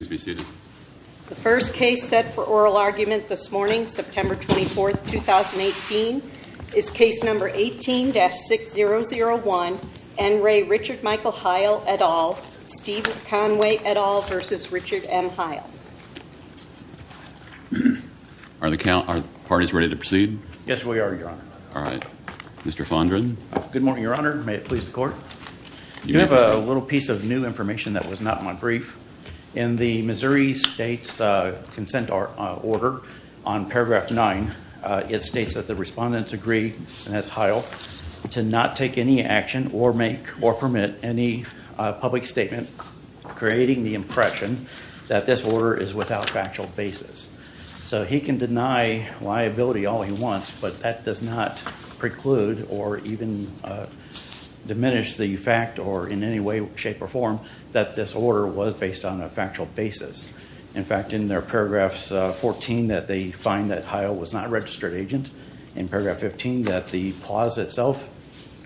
The first case set for oral argument this morning, September 24, 2018, is case number 18-6001, N. Ray Richard Michael Heyl et al., Stephen Conway et al. v. Richard M. Heyl. Are the parties ready to proceed? Yes, we are, Your Honor. All right. Mr. Fondren? Good morning, Your Honor. May it please the Court? You have a little piece of new information that was not in my brief. In the Missouri State's consent order on paragraph 9, it states that the respondents agree, and that's Heyl, to not take any action or make or permit any public statement creating the impression that this order is without factual basis. So he can deny liability all he wants, but that does not preclude or even diminish the fact or in any way, shape, or form that this order was based on a factual basis. In fact, in their paragraphs 14, that they find that Heyl was not a registered agent. In paragraph 15, that the clause itself,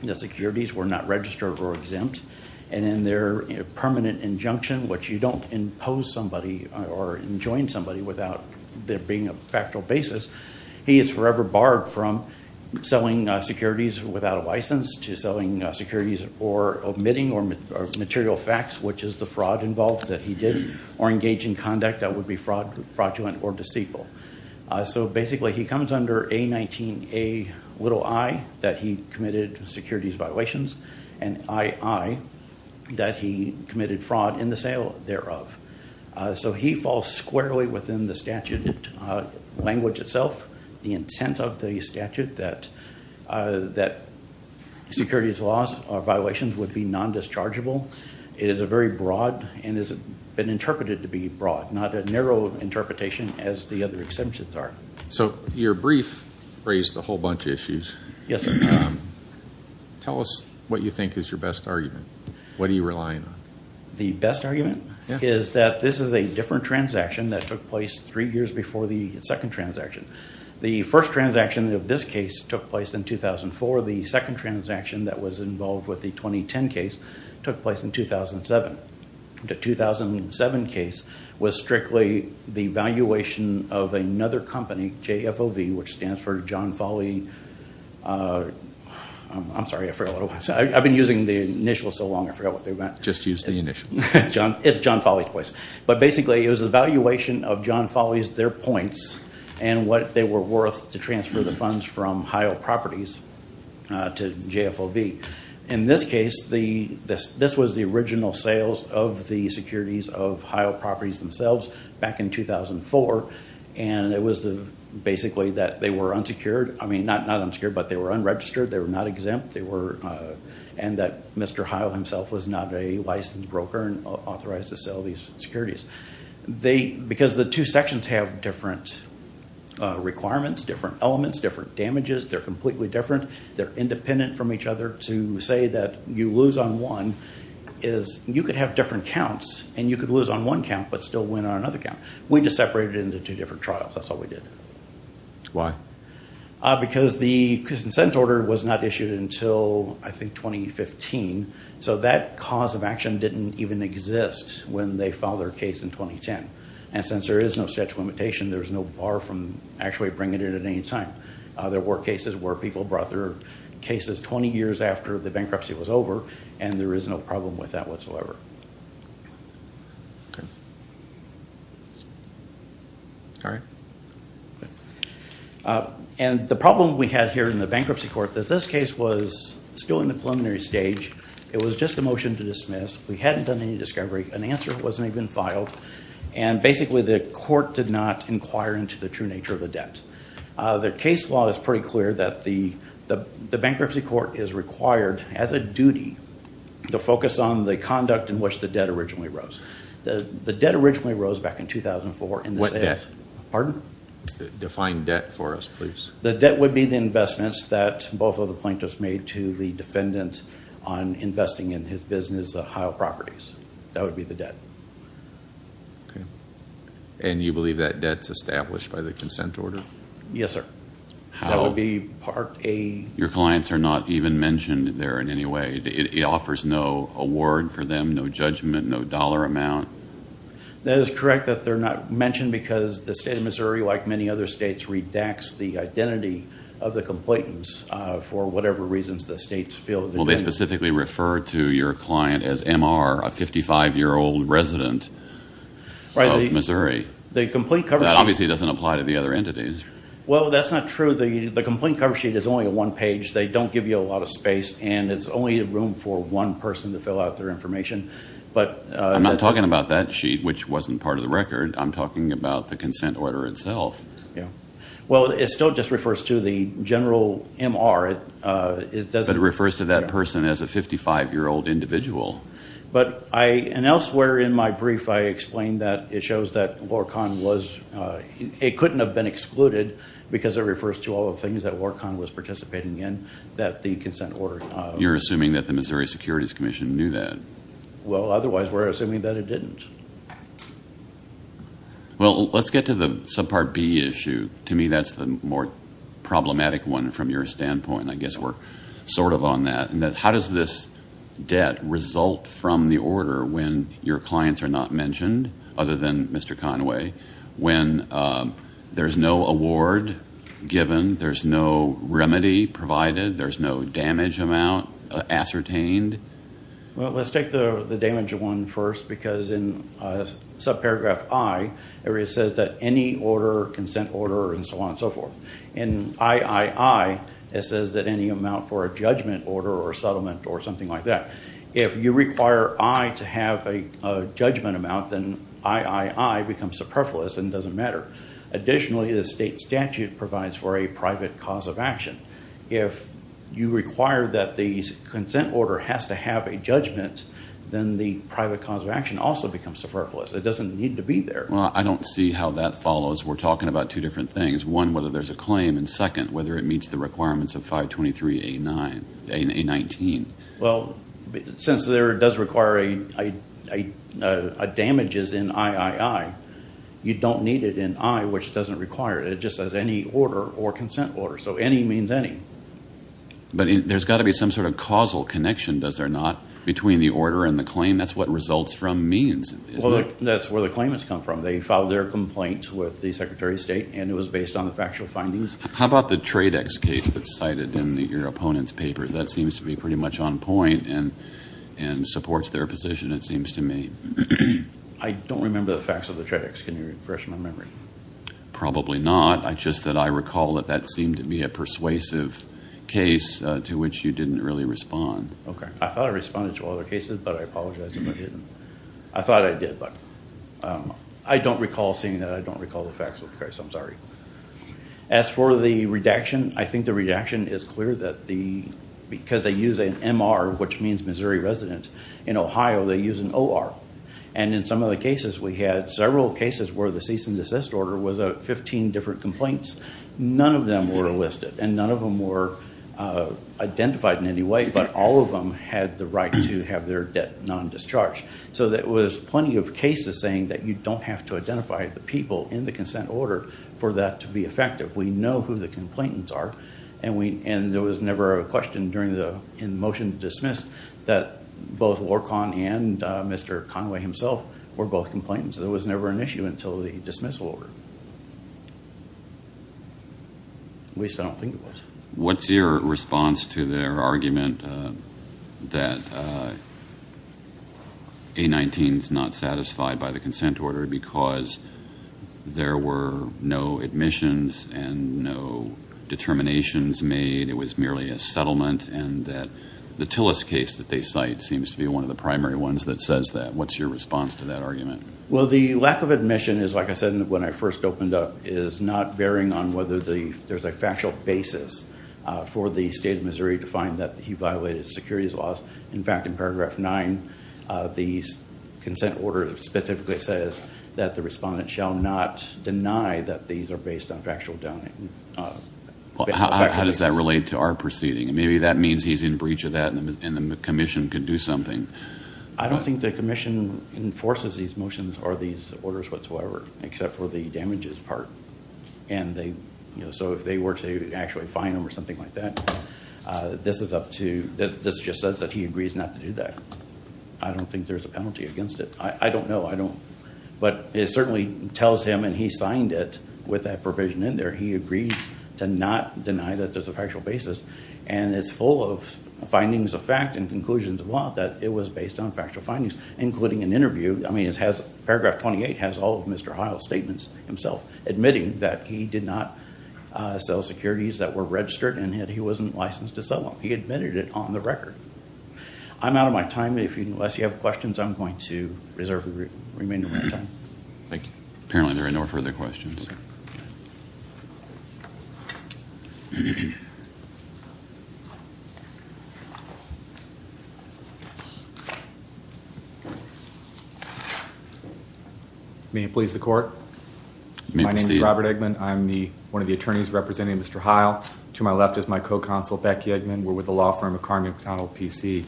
the securities were not registered or exempt. And in their permanent injunction, which you don't impose somebody or enjoin somebody without there being a factual basis, he is forever barred from selling securities without a license to selling securities or omitting or material facts, which is the fraud involved that he did or engaged in conduct that would be fraudulent or deceitful. So basically, he comes under A-19-a-i, that he committed securities violations, and I-i, that he committed fraud in the sale thereof. So he falls squarely within the statute language itself, the intent of the statute that securities laws or violations would be non-dischargeable. It is a very broad and has been interpreted to be broad, not a narrow interpretation as the other exemptions are. So your brief raised a whole bunch of issues. Yes, sir. Tell us what you think is your best argument. What are you relying on? The best argument is that this is a different transaction that took place three years before the second transaction. The first transaction of this case took place in 2004. The second transaction that was involved with the 2010 case took place in 2007. The 2007 case was strictly the valuation of another company, JFOV, which stands for John Folley. I'm sorry. I've been using the initials so long I forgot what they meant. Just use the initials. It's John Folley twice. But basically it was the valuation of John Folley's, their points, and what they were worth to transfer the funds from Heil Properties to JFOV. In this case, this was the original sales of the securities of Heil Properties themselves back in 2004. And it was basically that they were unsecured. I mean, not unsecured, but they were unregistered. They were not exempt. And that Mr. Heil himself was not a licensed broker and authorized to sell these securities. Because the two sections have different requirements, different elements, different damages, they're completely different. They're independent from each other. To say that you lose on one is, you could have different counts and you could lose on one count but still win on another count. We just separated it into two different trials. That's all we did. Why? Because the consent order was not issued until, I think, 2015. So that cause of action didn't even exist when they filed their case in 2010. And since there is no statute of limitation, there's no bar from actually bringing it in at any time. There were cases where people brought their cases 20 years after the bankruptcy was over. And there is no problem with that whatsoever. Okay. All right. And the problem we had here in the bankruptcy court is this case was still in the preliminary stage. It was just a motion to dismiss. We hadn't done any discovery. An answer wasn't even filed. And basically the court did not inquire into the true nature of the debt. The case law is pretty clear that the bankruptcy court is required, as a duty, to focus on the conduct in which the debt originally rose. The debt originally rose back in 2004. What debt? Pardon? Define debt for us, please. The debt would be the investments that both of the plaintiffs made to the defendant on investing in his business, Ohio Properties. That would be the debt. Okay. And you believe that debt's established by the consent order? Yes, sir. How? That would be part A. Your clients are not even mentioned there in any way. It offers no award for them, no judgment, no dollar amount. That is correct that they're not mentioned because the state of Missouri, like many other states, redacts the identity of the complainants for whatever reasons the states feel. Well, they specifically refer to your client as MR, a 55-year-old resident of Missouri. That obviously doesn't apply to the other entities. Well, that's not true. The complaint cover sheet is only a one page. They don't give you a lot of space, and it's only room for one person to fill out their information. I'm not talking about that sheet, which wasn't part of the record. I'm talking about the consent order itself. Well, it still just refers to the general MR. But it refers to that person as a 55-year-old individual. But I, and elsewhere in my brief, I explained that it shows that LORCON was, it couldn't have been excluded because it refers to all the things that LORCON was participating in that the consent order. You're assuming that the Missouri Securities Commission knew that. Well, otherwise we're assuming that it didn't. Well, let's get to the subpart B issue. To me, that's the more problematic one from your standpoint. I guess we're sort of on that. How does this debt result from the order when your clients are not mentioned, other than Mr. Conway, when there's no award given, there's no remedy provided, there's no damage amount ascertained? Well, let's take the damage one first because in subparagraph I, it says that any order, consent order, and so on and so forth. In I-I-I, it says that any amount for a judgment order or a settlement or something like that. If you require I to have a judgment amount, then I-I-I becomes superfluous and doesn't matter. Additionally, the state statute provides for a private cause of action. If you require that the consent order has to have a judgment, then the private cause of action also becomes superfluous. It doesn't need to be there. Well, I don't see how that follows. We're talking about two different things. One, whether there's a claim, and second, whether it meets the requirements of 523A19. Well, since there does require a damages in I-I-I, you don't need it in I, which doesn't require it. It just says any order or consent order. So any means any. But there's got to be some sort of causal connection, does there not, between the order and the claim? That's what results from means. Well, that's where the claimants come from. They filed their complaint with the Secretary of State, and it was based on the factual findings. How about the Tradex case that's cited in your opponent's paper? That seems to be pretty much on point and-and supports their position, it seems to me. I don't remember the facts of the Tradex. Can you refresh my memory? Probably not. It's just that I recall that that seemed to be a persuasive case to which you didn't really respond. Okay. I thought I responded to all the cases, but I apologize if I didn't. I thought I did, but I don't recall seeing that. I don't recall the facts of the case. I'm sorry. As for the redaction, I think the redaction is clear that the-because they use an MR, which means Missouri resident. In Ohio, they use an OR. And in some of the cases, we had several cases where the cease and desist order was 15 different complaints. None of them were listed, and none of them were identified in any way, but all of them had the right to have their debt non-discharged. So there was plenty of cases saying that you don't have to identify the people in the consent order for that to be effective. We know who the complainants are, and we-and there was never a question during the-in the motion dismissed that both Lorcan and Mr. Conway himself were both complainants. There was never an issue until the dismissal order. At least I don't think it was. What's your response to their argument that A-19 is not satisfied by the consent order because there were no admissions and no determinations made, it was merely a settlement, and that the Tillis case that they cite seems to be one of the primary ones that says that? What's your response to that argument? Well, the lack of admission is, like I said when I first opened up, is not bearing on whether there's a factual basis for the state of Missouri to find that he violated securities laws. In fact, in paragraph 9 of the consent order, it specifically says that the respondent shall not deny that these are based on factual doubting. How does that relate to our proceeding? Maybe that means he's in breach of that and the commission could do something. I don't think the commission enforces these motions or these orders whatsoever, except for the damages part. If they were to actually fine him or something like that, this just says that he agrees not to do that. I don't think there's a penalty against it. I don't know. It certainly tells him, and he signed it with that provision in there, he agrees to not deny that there's a factual basis, and it's full of findings of fact and conclusions of law that it was based on factual findings, including an interview. I mean, paragraph 28 has all of Mr. Heil's statements himself, admitting that he did not sell securities that were registered and that he wasn't licensed to sell them. He admitted it on the record. I'm out of my time. Unless you have questions, I'm going to reserve the remainder of my time. Thank you. Apparently there are no further questions. May it please the court. My name is Robert Eggman. I'm one of the attorneys representing Mr. Heil. To my left is my co-consult, Becky Eggman. We're with the law firm of Carmichael PC.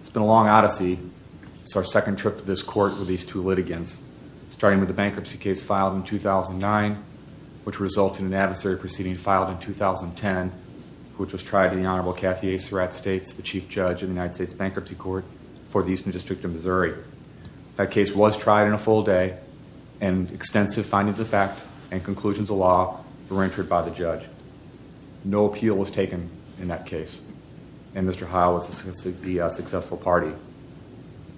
It's been a long odyssey. It's our second trip to this court with these two litigants, starting with the bankruptcy case filed in 2009, which resulted in an adversary proceeding filed in 2010, which was tried in the Honorable Kathy A. Surratt States, the chief judge in the United States Bankruptcy Court for the Eastern District of Missouri. That case was tried in a full day, and extensive findings of fact and conclusions of law were entered by the judge. No appeal was taken in that case, and Mr. Heil was the successful party.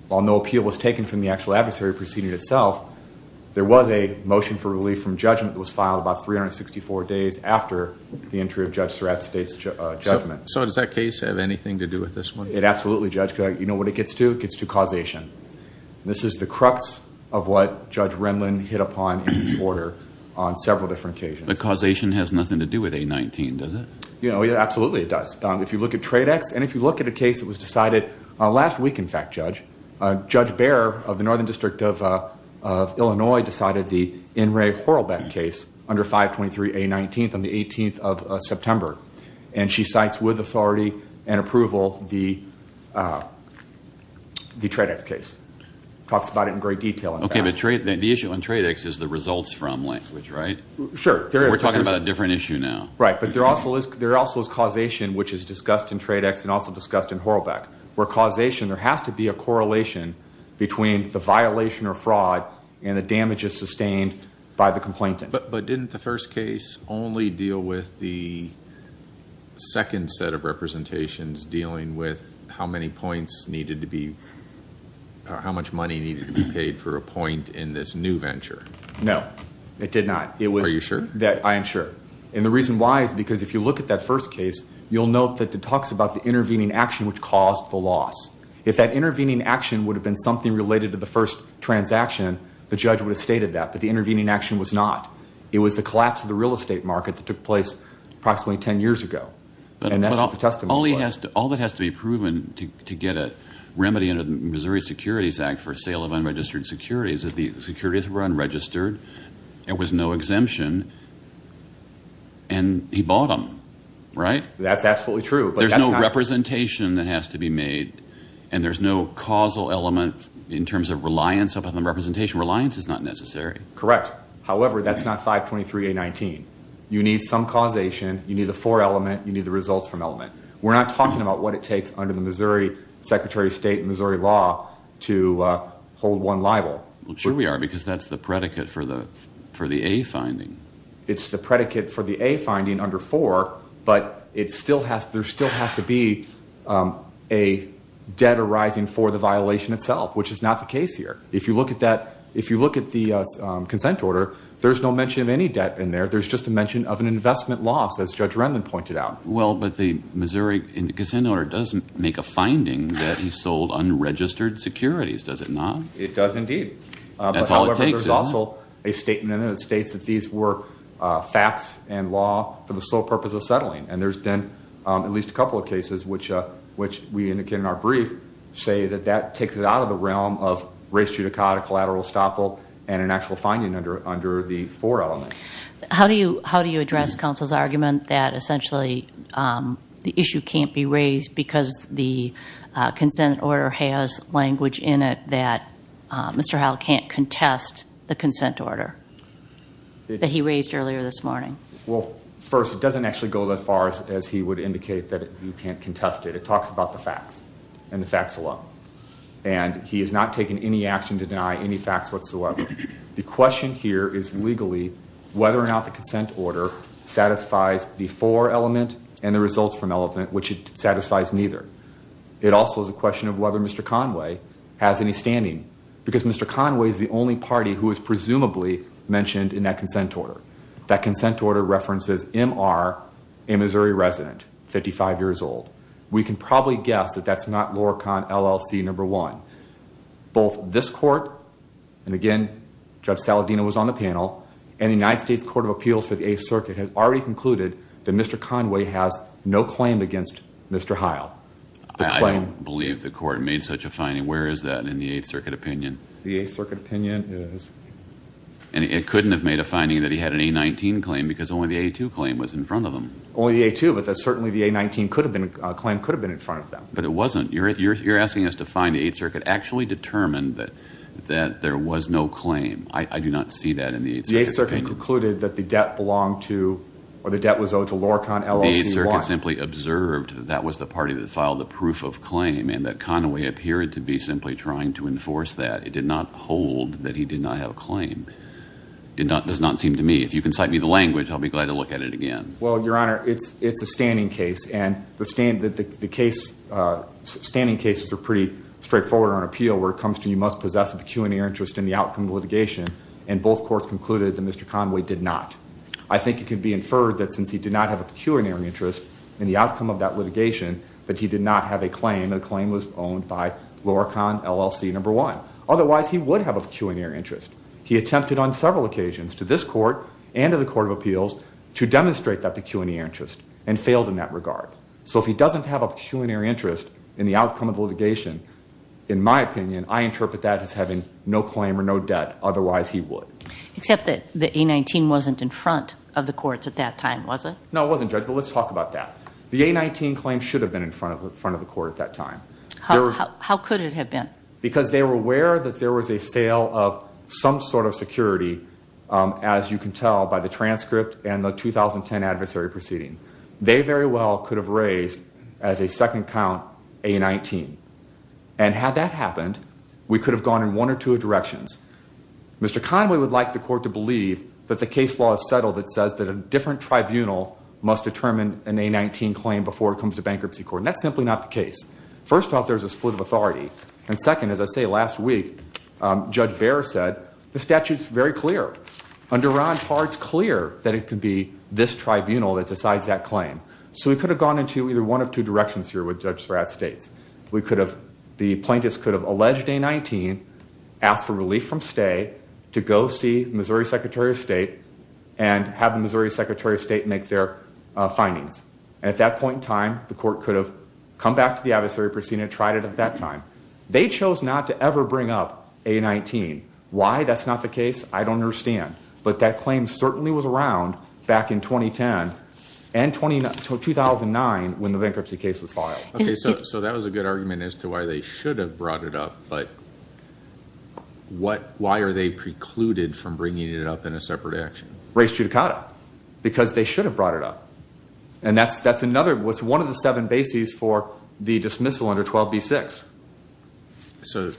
While no appeal was taken from the actual adversary proceeding itself, there was a motion for relief from judgment that was filed about 364 days after the entry of Judge Surratt's judgment. So does that case have anything to do with this one? It absolutely does. You know what it gets to? It gets to causation. This is the crux of what Judge Renlund hit upon in his order on several different occasions. But causation has nothing to do with A19, does it? Absolutely it does. If you look at Tradex, and if you look at a case that was decided last week, in fact, Judge, Judge Baer of the Northern District of Illinois decided the N. Ray Horlbeck case under 523 A19 on the 18th of September, and she cites with authority and approval the Tradex case. Talks about it in great detail. Okay, but the issue on Tradex is the results from language, right? Sure. We're talking about a different issue now. Right, but there also is causation, which is discussed in Tradex and also discussed in Horlbeck, where causation, there has to be a correlation between the violation or fraud and the damages sustained by the complainant. But didn't the first case only deal with the second set of representations dealing with how many points needed to be, how much money needed to be paid for a point in this new venture? No, it did not. Are you sure? I am sure. And the reason why is because if you look at that first case, you'll note that it talks about the intervening action which caused the loss. If that intervening action would have been something related to the first transaction, the judge would have stated that, but the intervening action was not. It was the collapse of the real estate market that took place approximately 10 years ago, and that's what the testimony was. All that has to be proven to get a remedy under the Missouri Securities Act for sale of unregistered securities, that the securities were unregistered, there was no exemption, and he bought them, right? That's absolutely true. There's no representation that has to be made, and there's no causal element in terms of reliance upon the representation. Reliance is not necessary. Correct. However, that's not 523A19. You need some causation. You need the for element. You need the results from element. We're not talking about what it takes under the Missouri, to hold one liable. Sure we are, because that's the predicate for the A finding. It's the predicate for the A finding under 4, but there still has to be a debt arising for the violation itself, which is not the case here. If you look at the consent order, there's no mention of any debt in there. There's just a mention of an investment loss, as Judge Rendon pointed out. Well, but the Missouri consent order does make a finding that he sold unregistered securities. Does it not? It does indeed. That's how it takes it. However, there's also a statement in it that states that these were facts and law for the sole purpose of settling, and there's been at least a couple of cases which we indicated in our brief say that that takes it out of the realm of race judicata, collateral estoppel, and an actual finding under the for element. How do you address counsel's argument that essentially the issue can't be raised because the consent order has language in it that Mr. Howell can't contest the consent order that he raised earlier this morning? Well, first, it doesn't actually go that far as he would indicate that you can't contest it. It talks about the facts and the facts alone, and he has not taken any action to deny any facts whatsoever. The question here is legally whether or not the consent order satisfies the for element and the results from element, which it satisfies neither. It also is a question of whether Mr. Conway has any standing because Mr. Conway is the only party who is presumably mentioned in that consent order. That consent order references MR, a Missouri resident, 55 years old. We can probably guess that that's not Loracon LLC number one. Both this court, and again, Judge Saladino was on the panel, and the United States Court of Appeals for the Eighth Circuit has already concluded that Mr. Conway has no claim against Mr. Howell. I don't believe the court made such a finding. Where is that in the Eighth Circuit opinion? The Eighth Circuit opinion is... And it couldn't have made a finding that he had an A-19 claim because only the A-2 claim was in front of him. Only the A-2, but certainly the A-19 claim could have been in front of them. But it wasn't. You're asking us to find the Eighth Circuit actually determined that there was no claim. I do not see that in the Eighth Circuit opinion. The Eighth Circuit concluded that the debt belonged to, or the debt was owed to Loracon LLC. The Eighth Circuit simply observed that that was the party that filed the proof of claim and that Conway appeared to be simply trying to enforce that. It did not hold that he did not have a claim. It does not seem to me. If you can cite me the language, I'll be glad to look at it again. Well, Your Honor, it's a standing case, and the standing cases are pretty straightforward on appeal where it comes to you must possess a pecuniary interest in the outcome of litigation, and both courts concluded that Mr. Conway did not. I think it can be inferred that since he did not have a pecuniary interest in the outcome of that litigation that he did not have a claim, and the claim was owned by Loracon LLC, number one. Otherwise, he would have a pecuniary interest. He attempted on several occasions to this court and to the Court of Appeals to demonstrate that pecuniary interest and failed in that regard. So if he doesn't have a pecuniary interest in the outcome of litigation, in my opinion, I interpret that as having no claim or no debt. Otherwise, he would. Except that the A-19 wasn't in front of the courts at that time, was it? No, it wasn't, Judge, but let's talk about that. The A-19 claim should have been in front of the court at that time. How could it have been? Because they were aware that there was a sale of some sort of security, as you can tell by the transcript and the 2010 adversary proceeding. They very well could have raised as a second count A-19. And had that happened, we could have gone in one or two directions. Mr. Conway would like the court to believe that the case law is settled that says that a different tribunal must determine an A-19 claim before it comes to bankruptcy court. And that's simply not the case. First off, there's a split of authority. And second, as I say, last week, Judge Baer said the statute's very clear. Under Ron Parr, it's clear that it could be this tribunal that decides that claim. So we could have gone into either one of two directions here with Judge Svratis. The plaintiffs could have alleged A-19, asked for relief from stay, to go see the Missouri Secretary of State and have the Missouri Secretary of State make their findings. And at that point in time, the court could have come back to the adversary proceeding and tried it at that time. They chose not to ever bring up A-19. Why that's not the case, I don't understand. But that claim certainly was around back in 2010 and 2009 when the bankruptcy case was filed. Okay, so that was a good argument as to why they should have brought it up. But why are they precluded from bringing it up in a separate action? Because they should have brought it up. And that's another one of the seven bases for the dismissal under 12B-6. So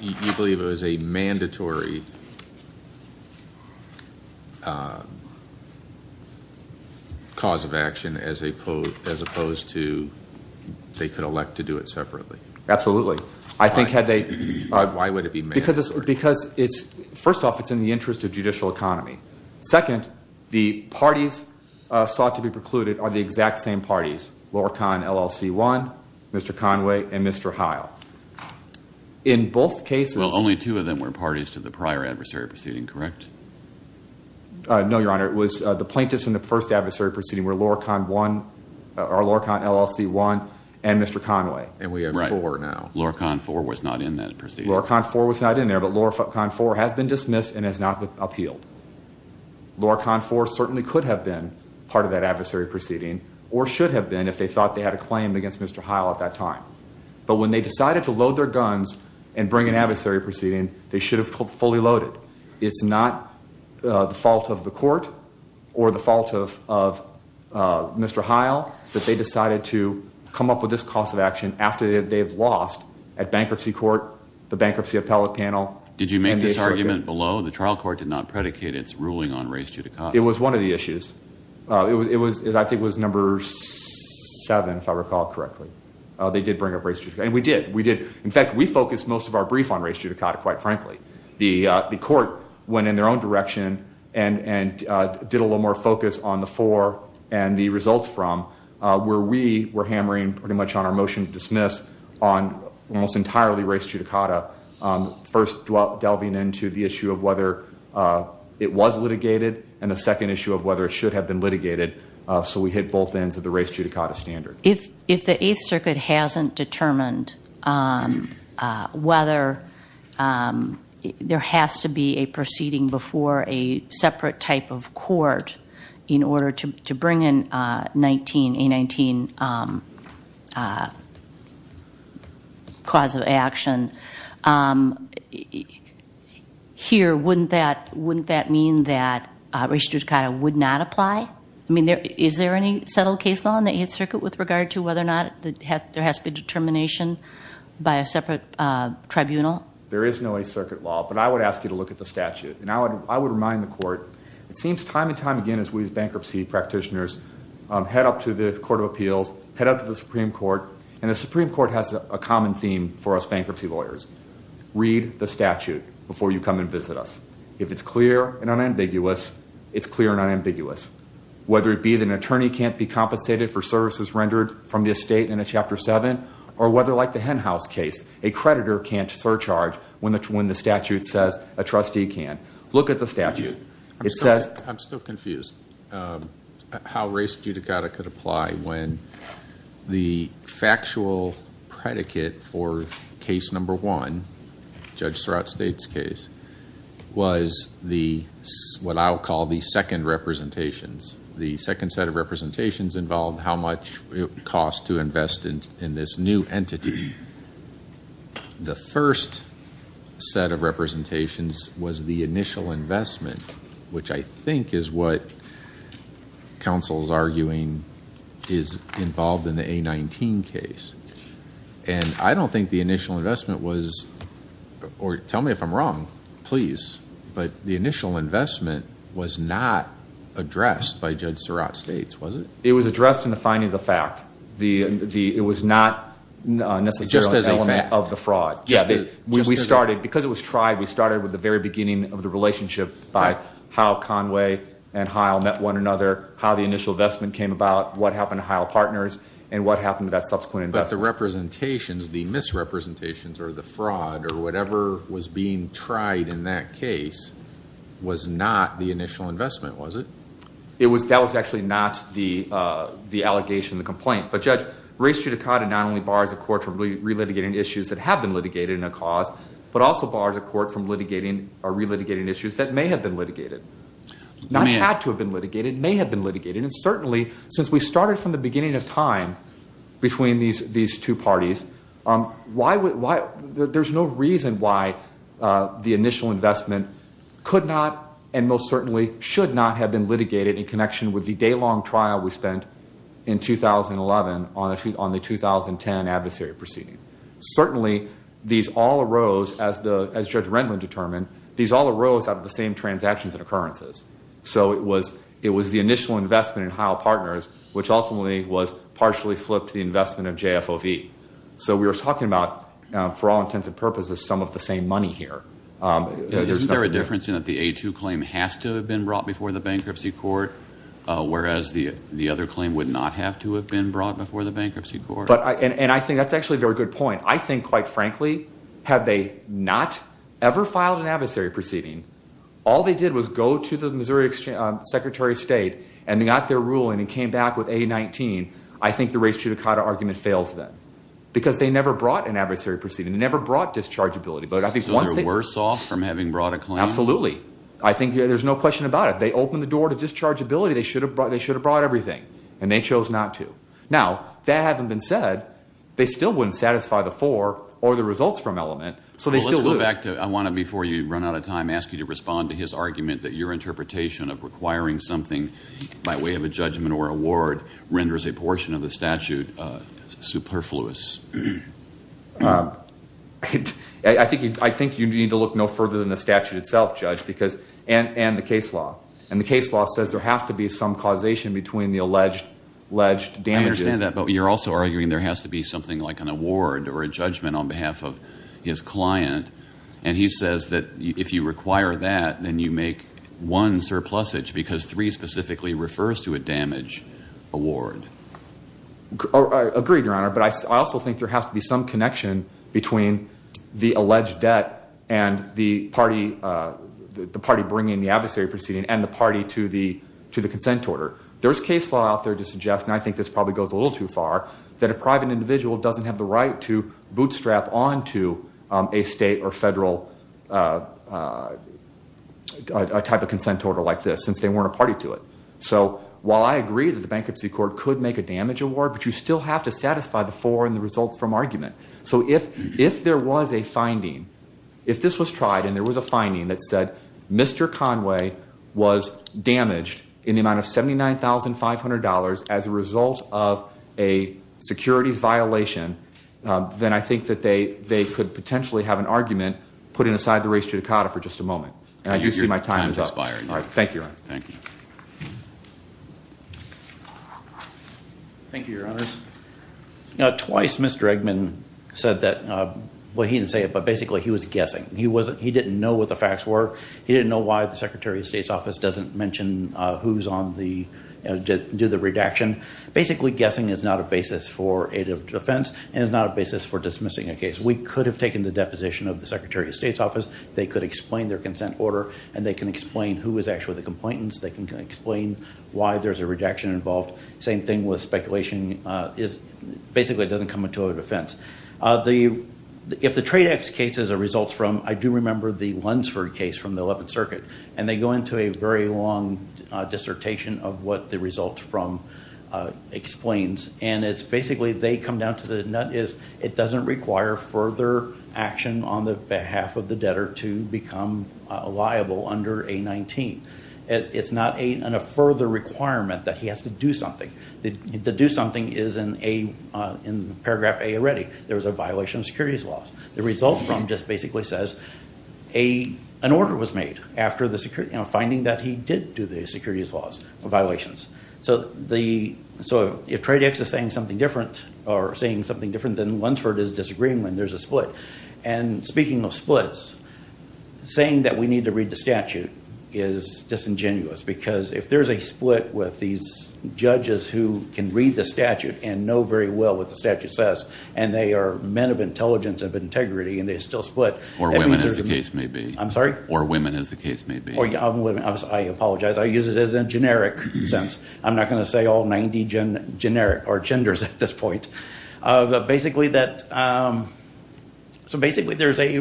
you believe it was a mandatory cause of action as opposed to they could elect to do it separately? Absolutely. Why would it be mandatory? Because first off, it's in the interest of judicial economy. Second, the parties sought to be precluded are the exact same parties, Lorcan LLC-1, Mr. Conway, and Mr. Heil. In both cases... Well, only two of them were parties to the prior adversary proceeding, correct? No, Your Honor. It was the plaintiffs in the first adversary proceeding were Lorcan LLC-1 and Mr. Conway. And we have four now. Right. Lorcan 4 was not in that proceeding. Lorcan 4 was not in there, but Lorcan 4 has been dismissed and has not appealed. Lorcan 4 certainly could have been part of that adversary proceeding or should have been if they thought they had a claim against Mr. Heil at that time. But when they decided to load their guns and bring an adversary proceeding, they should have fully loaded. It's not the fault of the court or the fault of Mr. Heil that they decided to come up with this cause of action at bankruptcy court, the bankruptcy appellate panel. Did you make this argument below? The trial court did not predicate its ruling on race judicata. It was one of the issues. I think it was number seven, if I recall correctly. They did bring up race judicata, and we did. In fact, we focused most of our brief on race judicata, quite frankly. The court went in their own direction and did a little more focus on the four and the results from where we were hammering pretty much on our motion to dismiss on almost entirely race judicata, first delving into the issue of whether it was litigated and the second issue of whether it should have been litigated. So we hit both ends of the race judicata standard. If the Eighth Circuit hasn't determined whether there has to be a proceeding before a separate type of court in order to bring in a 19 cause of action, here, wouldn't that mean that race judicata would not apply? I mean, is there any settled case law in the Eighth Circuit with regard to whether or not there has to be determination by a separate tribunal? There is no Eighth Circuit law, but I would ask you to look at the statute. And I would remind the court, it seems time and time again as we as bankruptcy practitioners head up to the Court of Appeals, head up to the Supreme Court, and the Supreme Court has a common theme for us bankruptcy lawyers. Read the statute before you come and visit us. If it's clear and unambiguous, it's clear and unambiguous. Whether it be that an attorney can't be compensated for services rendered from the estate in a Chapter 7, or whether like the Henhouse case, a creditor can't surcharge when the statute says a trustee can. Look at the statute. I'm still confused how race judicata could apply when the factual predicate for case number one, Judge Surratt State's case, was what I would call the second representations. The second set of representations involved how much it costs to invest in this new entity. The first set of representations was the initial investment, which I think is what counsel is arguing is involved in the A19 case. And I don't think the initial investment was, or tell me if I'm wrong, please, but the initial investment was not addressed by Judge Surratt State's, was it? It was addressed in the finding of the fact. It was not necessarily an element of the fraud. We started, because it was tried, we started with the very beginning of the relationship by how Conway and Heil met one another, how the initial investment came about, what happened to Heil Partners, and what happened to that subsequent investment. But the representations, the misrepresentations or the fraud or whatever was being tried in that case was not the initial investment, was it? That was actually not the allegation, the complaint. But, Judge, race judicata not only bars a court from relitigating issues that have been litigated in a cause, but also bars a court from litigating or relitigating issues that may have been litigated. Not had to have been litigated, may have been litigated. And certainly, since we started from the beginning of time between these two parties, there's no reason why the initial investment could not and most certainly should not have been litigated in connection with the day-long trial we spent in 2011 on the 2010 adversary proceeding. Certainly, these all arose, as Judge Renlund determined, these all arose out of the same transactions and occurrences. So it was the initial investment in Heil Partners, which ultimately was partially flipped to the investment of JFOV. So we were talking about, for all intents and purposes, some of the same money here. Isn't there a difference in that the A2 claim has to have been brought before the bankruptcy court, whereas the other claim would not have to have been brought before the bankruptcy court? And I think that's actually a very good point. I think, quite frankly, had they not ever filed an adversary proceeding, all they did was go to the Missouri Secretary of State and they got their ruling and came back with A19, I think the race-chudakata argument fails them because they never brought an adversary proceeding. They never brought dischargeability. So they're worse off from having brought a claim? Absolutely. I think there's no question about it. They opened the door to dischargeability. They should have brought everything, and they chose not to. Now, that having been said, they still wouldn't satisfy the four or the results from Element, so they still lose. In fact, I want to, before you run out of time, ask you to respond to his argument that your interpretation of requiring something by way of a judgment or award renders a portion of the statute superfluous. I think you need to look no further than the statute itself, Judge, and the case law. And the case law says there has to be some causation between the alleged damages. I understand that, but you're also arguing there has to be something like an award or a judgment on behalf of his client. And he says that if you require that, then you make one surplusage because three specifically refers to a damage award. Agreed, Your Honor, but I also think there has to be some connection between the alleged debt and the party bringing the adversary proceeding and the party to the consent order. There's case law out there to suggest, and I think this probably goes a little too far, that a private individual doesn't have the right to bootstrap onto a state or federal type of consent order like this since they weren't a party to it. So while I agree that the Bankruptcy Court could make a damage award, but you still have to satisfy the four and the results from Argument. So if there was a finding, if this was tried and there was a finding that said Mr. Conway was damaged in the amount of $79,500 as a result of a securities violation, then I think that they could potentially have an argument putting aside the race judicata for just a moment. And I do see my time is up. Your time is expiring. Thank you, Your Honor. Thank you. Thank you, Your Honors. Now, twice Mr. Eggman said that – well, he didn't say it, but basically he was guessing. He didn't know what the facts were. He didn't know why the Secretary of State's office doesn't mention who's on the – do the redaction. Basically, guessing is not a basis for aid of defense and is not a basis for dismissing a case. We could have taken the deposition of the Secretary of State's office. They could explain their consent order, and they can explain who was actually the complainants. They can explain why there's a redaction involved. Same thing with speculation. Basically, it doesn't come into a defense. If the Tradex case is a result from – I do remember the Lunsford case from the 11th Circuit, and they go into a very long dissertation of what the result from explains, and it's basically they come down to the nut is it doesn't require further action on the behalf of the debtor to become liable under A-19. It's not a further requirement that he has to do something. The do something is in paragraph A already. There was a violation of securities laws. The result from just basically says an order was made after the – finding that he did do the securities laws violations. So if Tradex is saying something different or saying something different than Lunsford is disagreeing with, there's a split. And speaking of splits, saying that we need to read the statute is disingenuous because if there's a split with these judges who can read the statute and know very well what the statute says, and they are men of intelligence, of integrity, and they still split. Or women, as the case may be. I'm sorry? Or women, as the case may be. I apologize. I use it as a generic sense. I'm not going to say all 90 genders at this point. But basically that – so basically there's a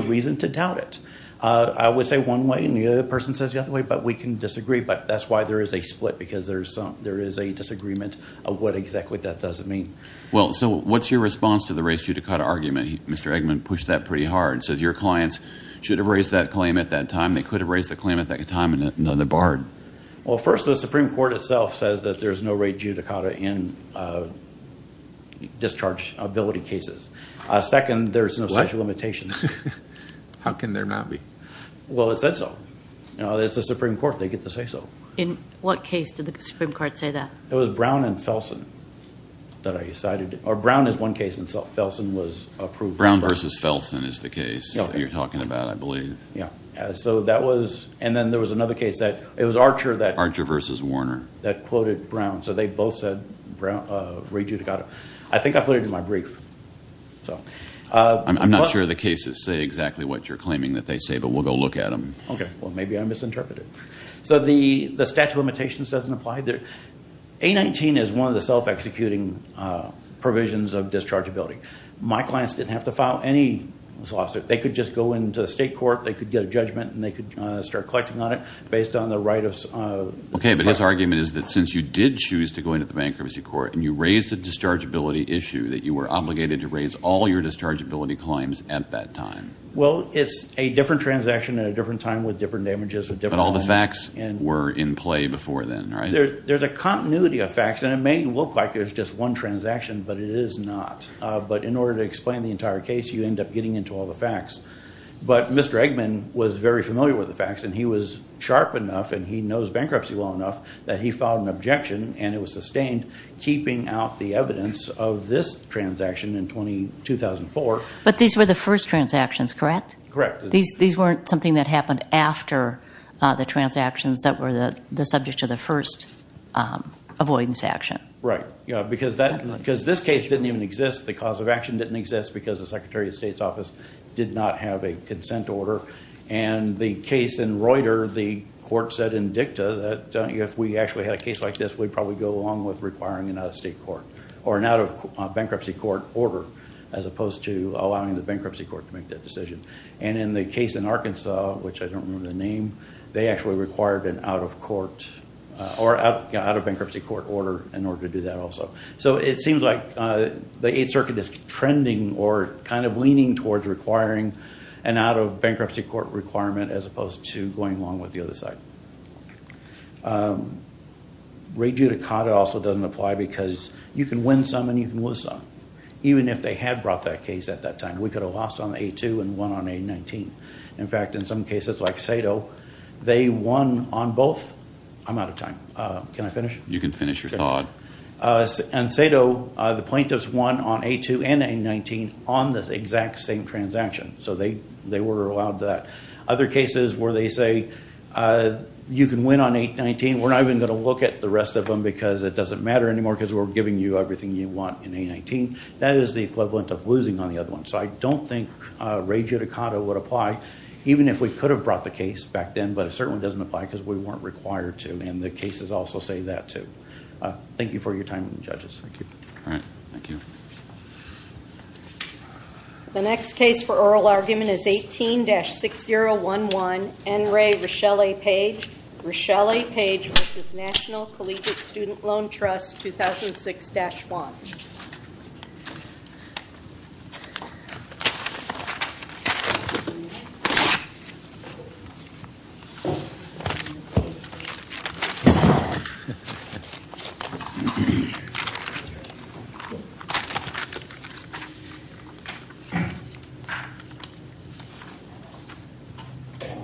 reason to doubt it. I would say one way and the other person says the other way, but we can disagree. But that's why there is a split because there is a disagreement of what exactly that doesn't mean. Well, so what's your response to the race judicata argument? Mr. Eggman pushed that pretty hard. He says your clients should have raised that claim at that time. They could have raised the claim at that time and none of it barred. Well, first, the Supreme Court itself says that there's no rate judicata in discharge ability cases. Second, there's no statute of limitations. How can there not be? Well, it said so. It's the Supreme Court. They get to say so. In what case did the Supreme Court say that? It was Brown and Felsen that I decided. Or Brown is one case in itself. Felsen was approved. Brown versus Felsen is the case that you're talking about, I believe. Yeah. And then there was another case. It was Archer that quoted Brown. So they both said rate judicata. I think I put it in my brief. I'm not sure the cases say exactly what you're claiming that they say, but we'll go look at them. Okay. Well, maybe I misinterpreted. So the statute of limitations doesn't apply. A-19 is one of the self-executing provisions of discharge ability. My clients didn't have to file any lawsuit. They could just go into state court. They could get a judgment, and they could start collecting on it based on the right of- Okay, but his argument is that since you did choose to go into the bankruptcy court, and you raised a discharge ability issue, that you were obligated to raise all your discharge ability claims at that time. Well, it's a different transaction at a different time with different damages. But all the facts were in play before then, right? There's a continuity of facts, and it may look like there's just one transaction, but it is not. But in order to explain the entire case, you end up getting into all the facts. But Mr. Eggman was very familiar with the facts, and he was sharp enough, and he knows bankruptcy well enough that he filed an objection, and it was sustained keeping out the evidence of this transaction in 2004. But these were the first transactions, correct? Correct. These weren't something that happened after the transactions that were the subject of the first avoidance action? Right. Because this case didn't even exist. The cause of action didn't exist because the Secretary of State's office did not have a consent order. And the case in Reuter, the court said in dicta that if we actually had a case like this, we'd probably go along with requiring an out-of-state court or an out-of-bankruptcy court order as opposed to allowing the bankruptcy court to make that decision. And in the case in Arkansas, which I don't remember the name, they actually required an out-of-court or out-of-bankruptcy court order in order to do that also. So it seems like the Eighth Circuit is trending or kind of leaning towards requiring an out-of-bankruptcy court requirement as opposed to going along with the other side. Rejudicata also doesn't apply because you can win some and you can lose some, even if they had brought that case at that time. We could have lost on A2 and won on A19. In fact, in some cases, like Sado, they won on both. I'm out of time. Can I finish? You can finish your thought. And Sado, the plaintiffs won on A2 and A19 on the exact same transaction. So they were allowed that. Other cases where they say you can win on A19, we're not even going to look at the rest of them because it doesn't matter anymore because we're giving you everything you want in A19. That is the equivalent of losing on the other one. So I don't think rejudicata would apply, even if we could have brought the case back then, but it certainly doesn't apply because we weren't required to, and the cases also say that, too. Thank you for your time, judges. Thank you. All right. Thank you. The next case for oral argument is 18-6011, N. Ray Richelle Page v. National Collegiate Student Loan Trust, 2006-1.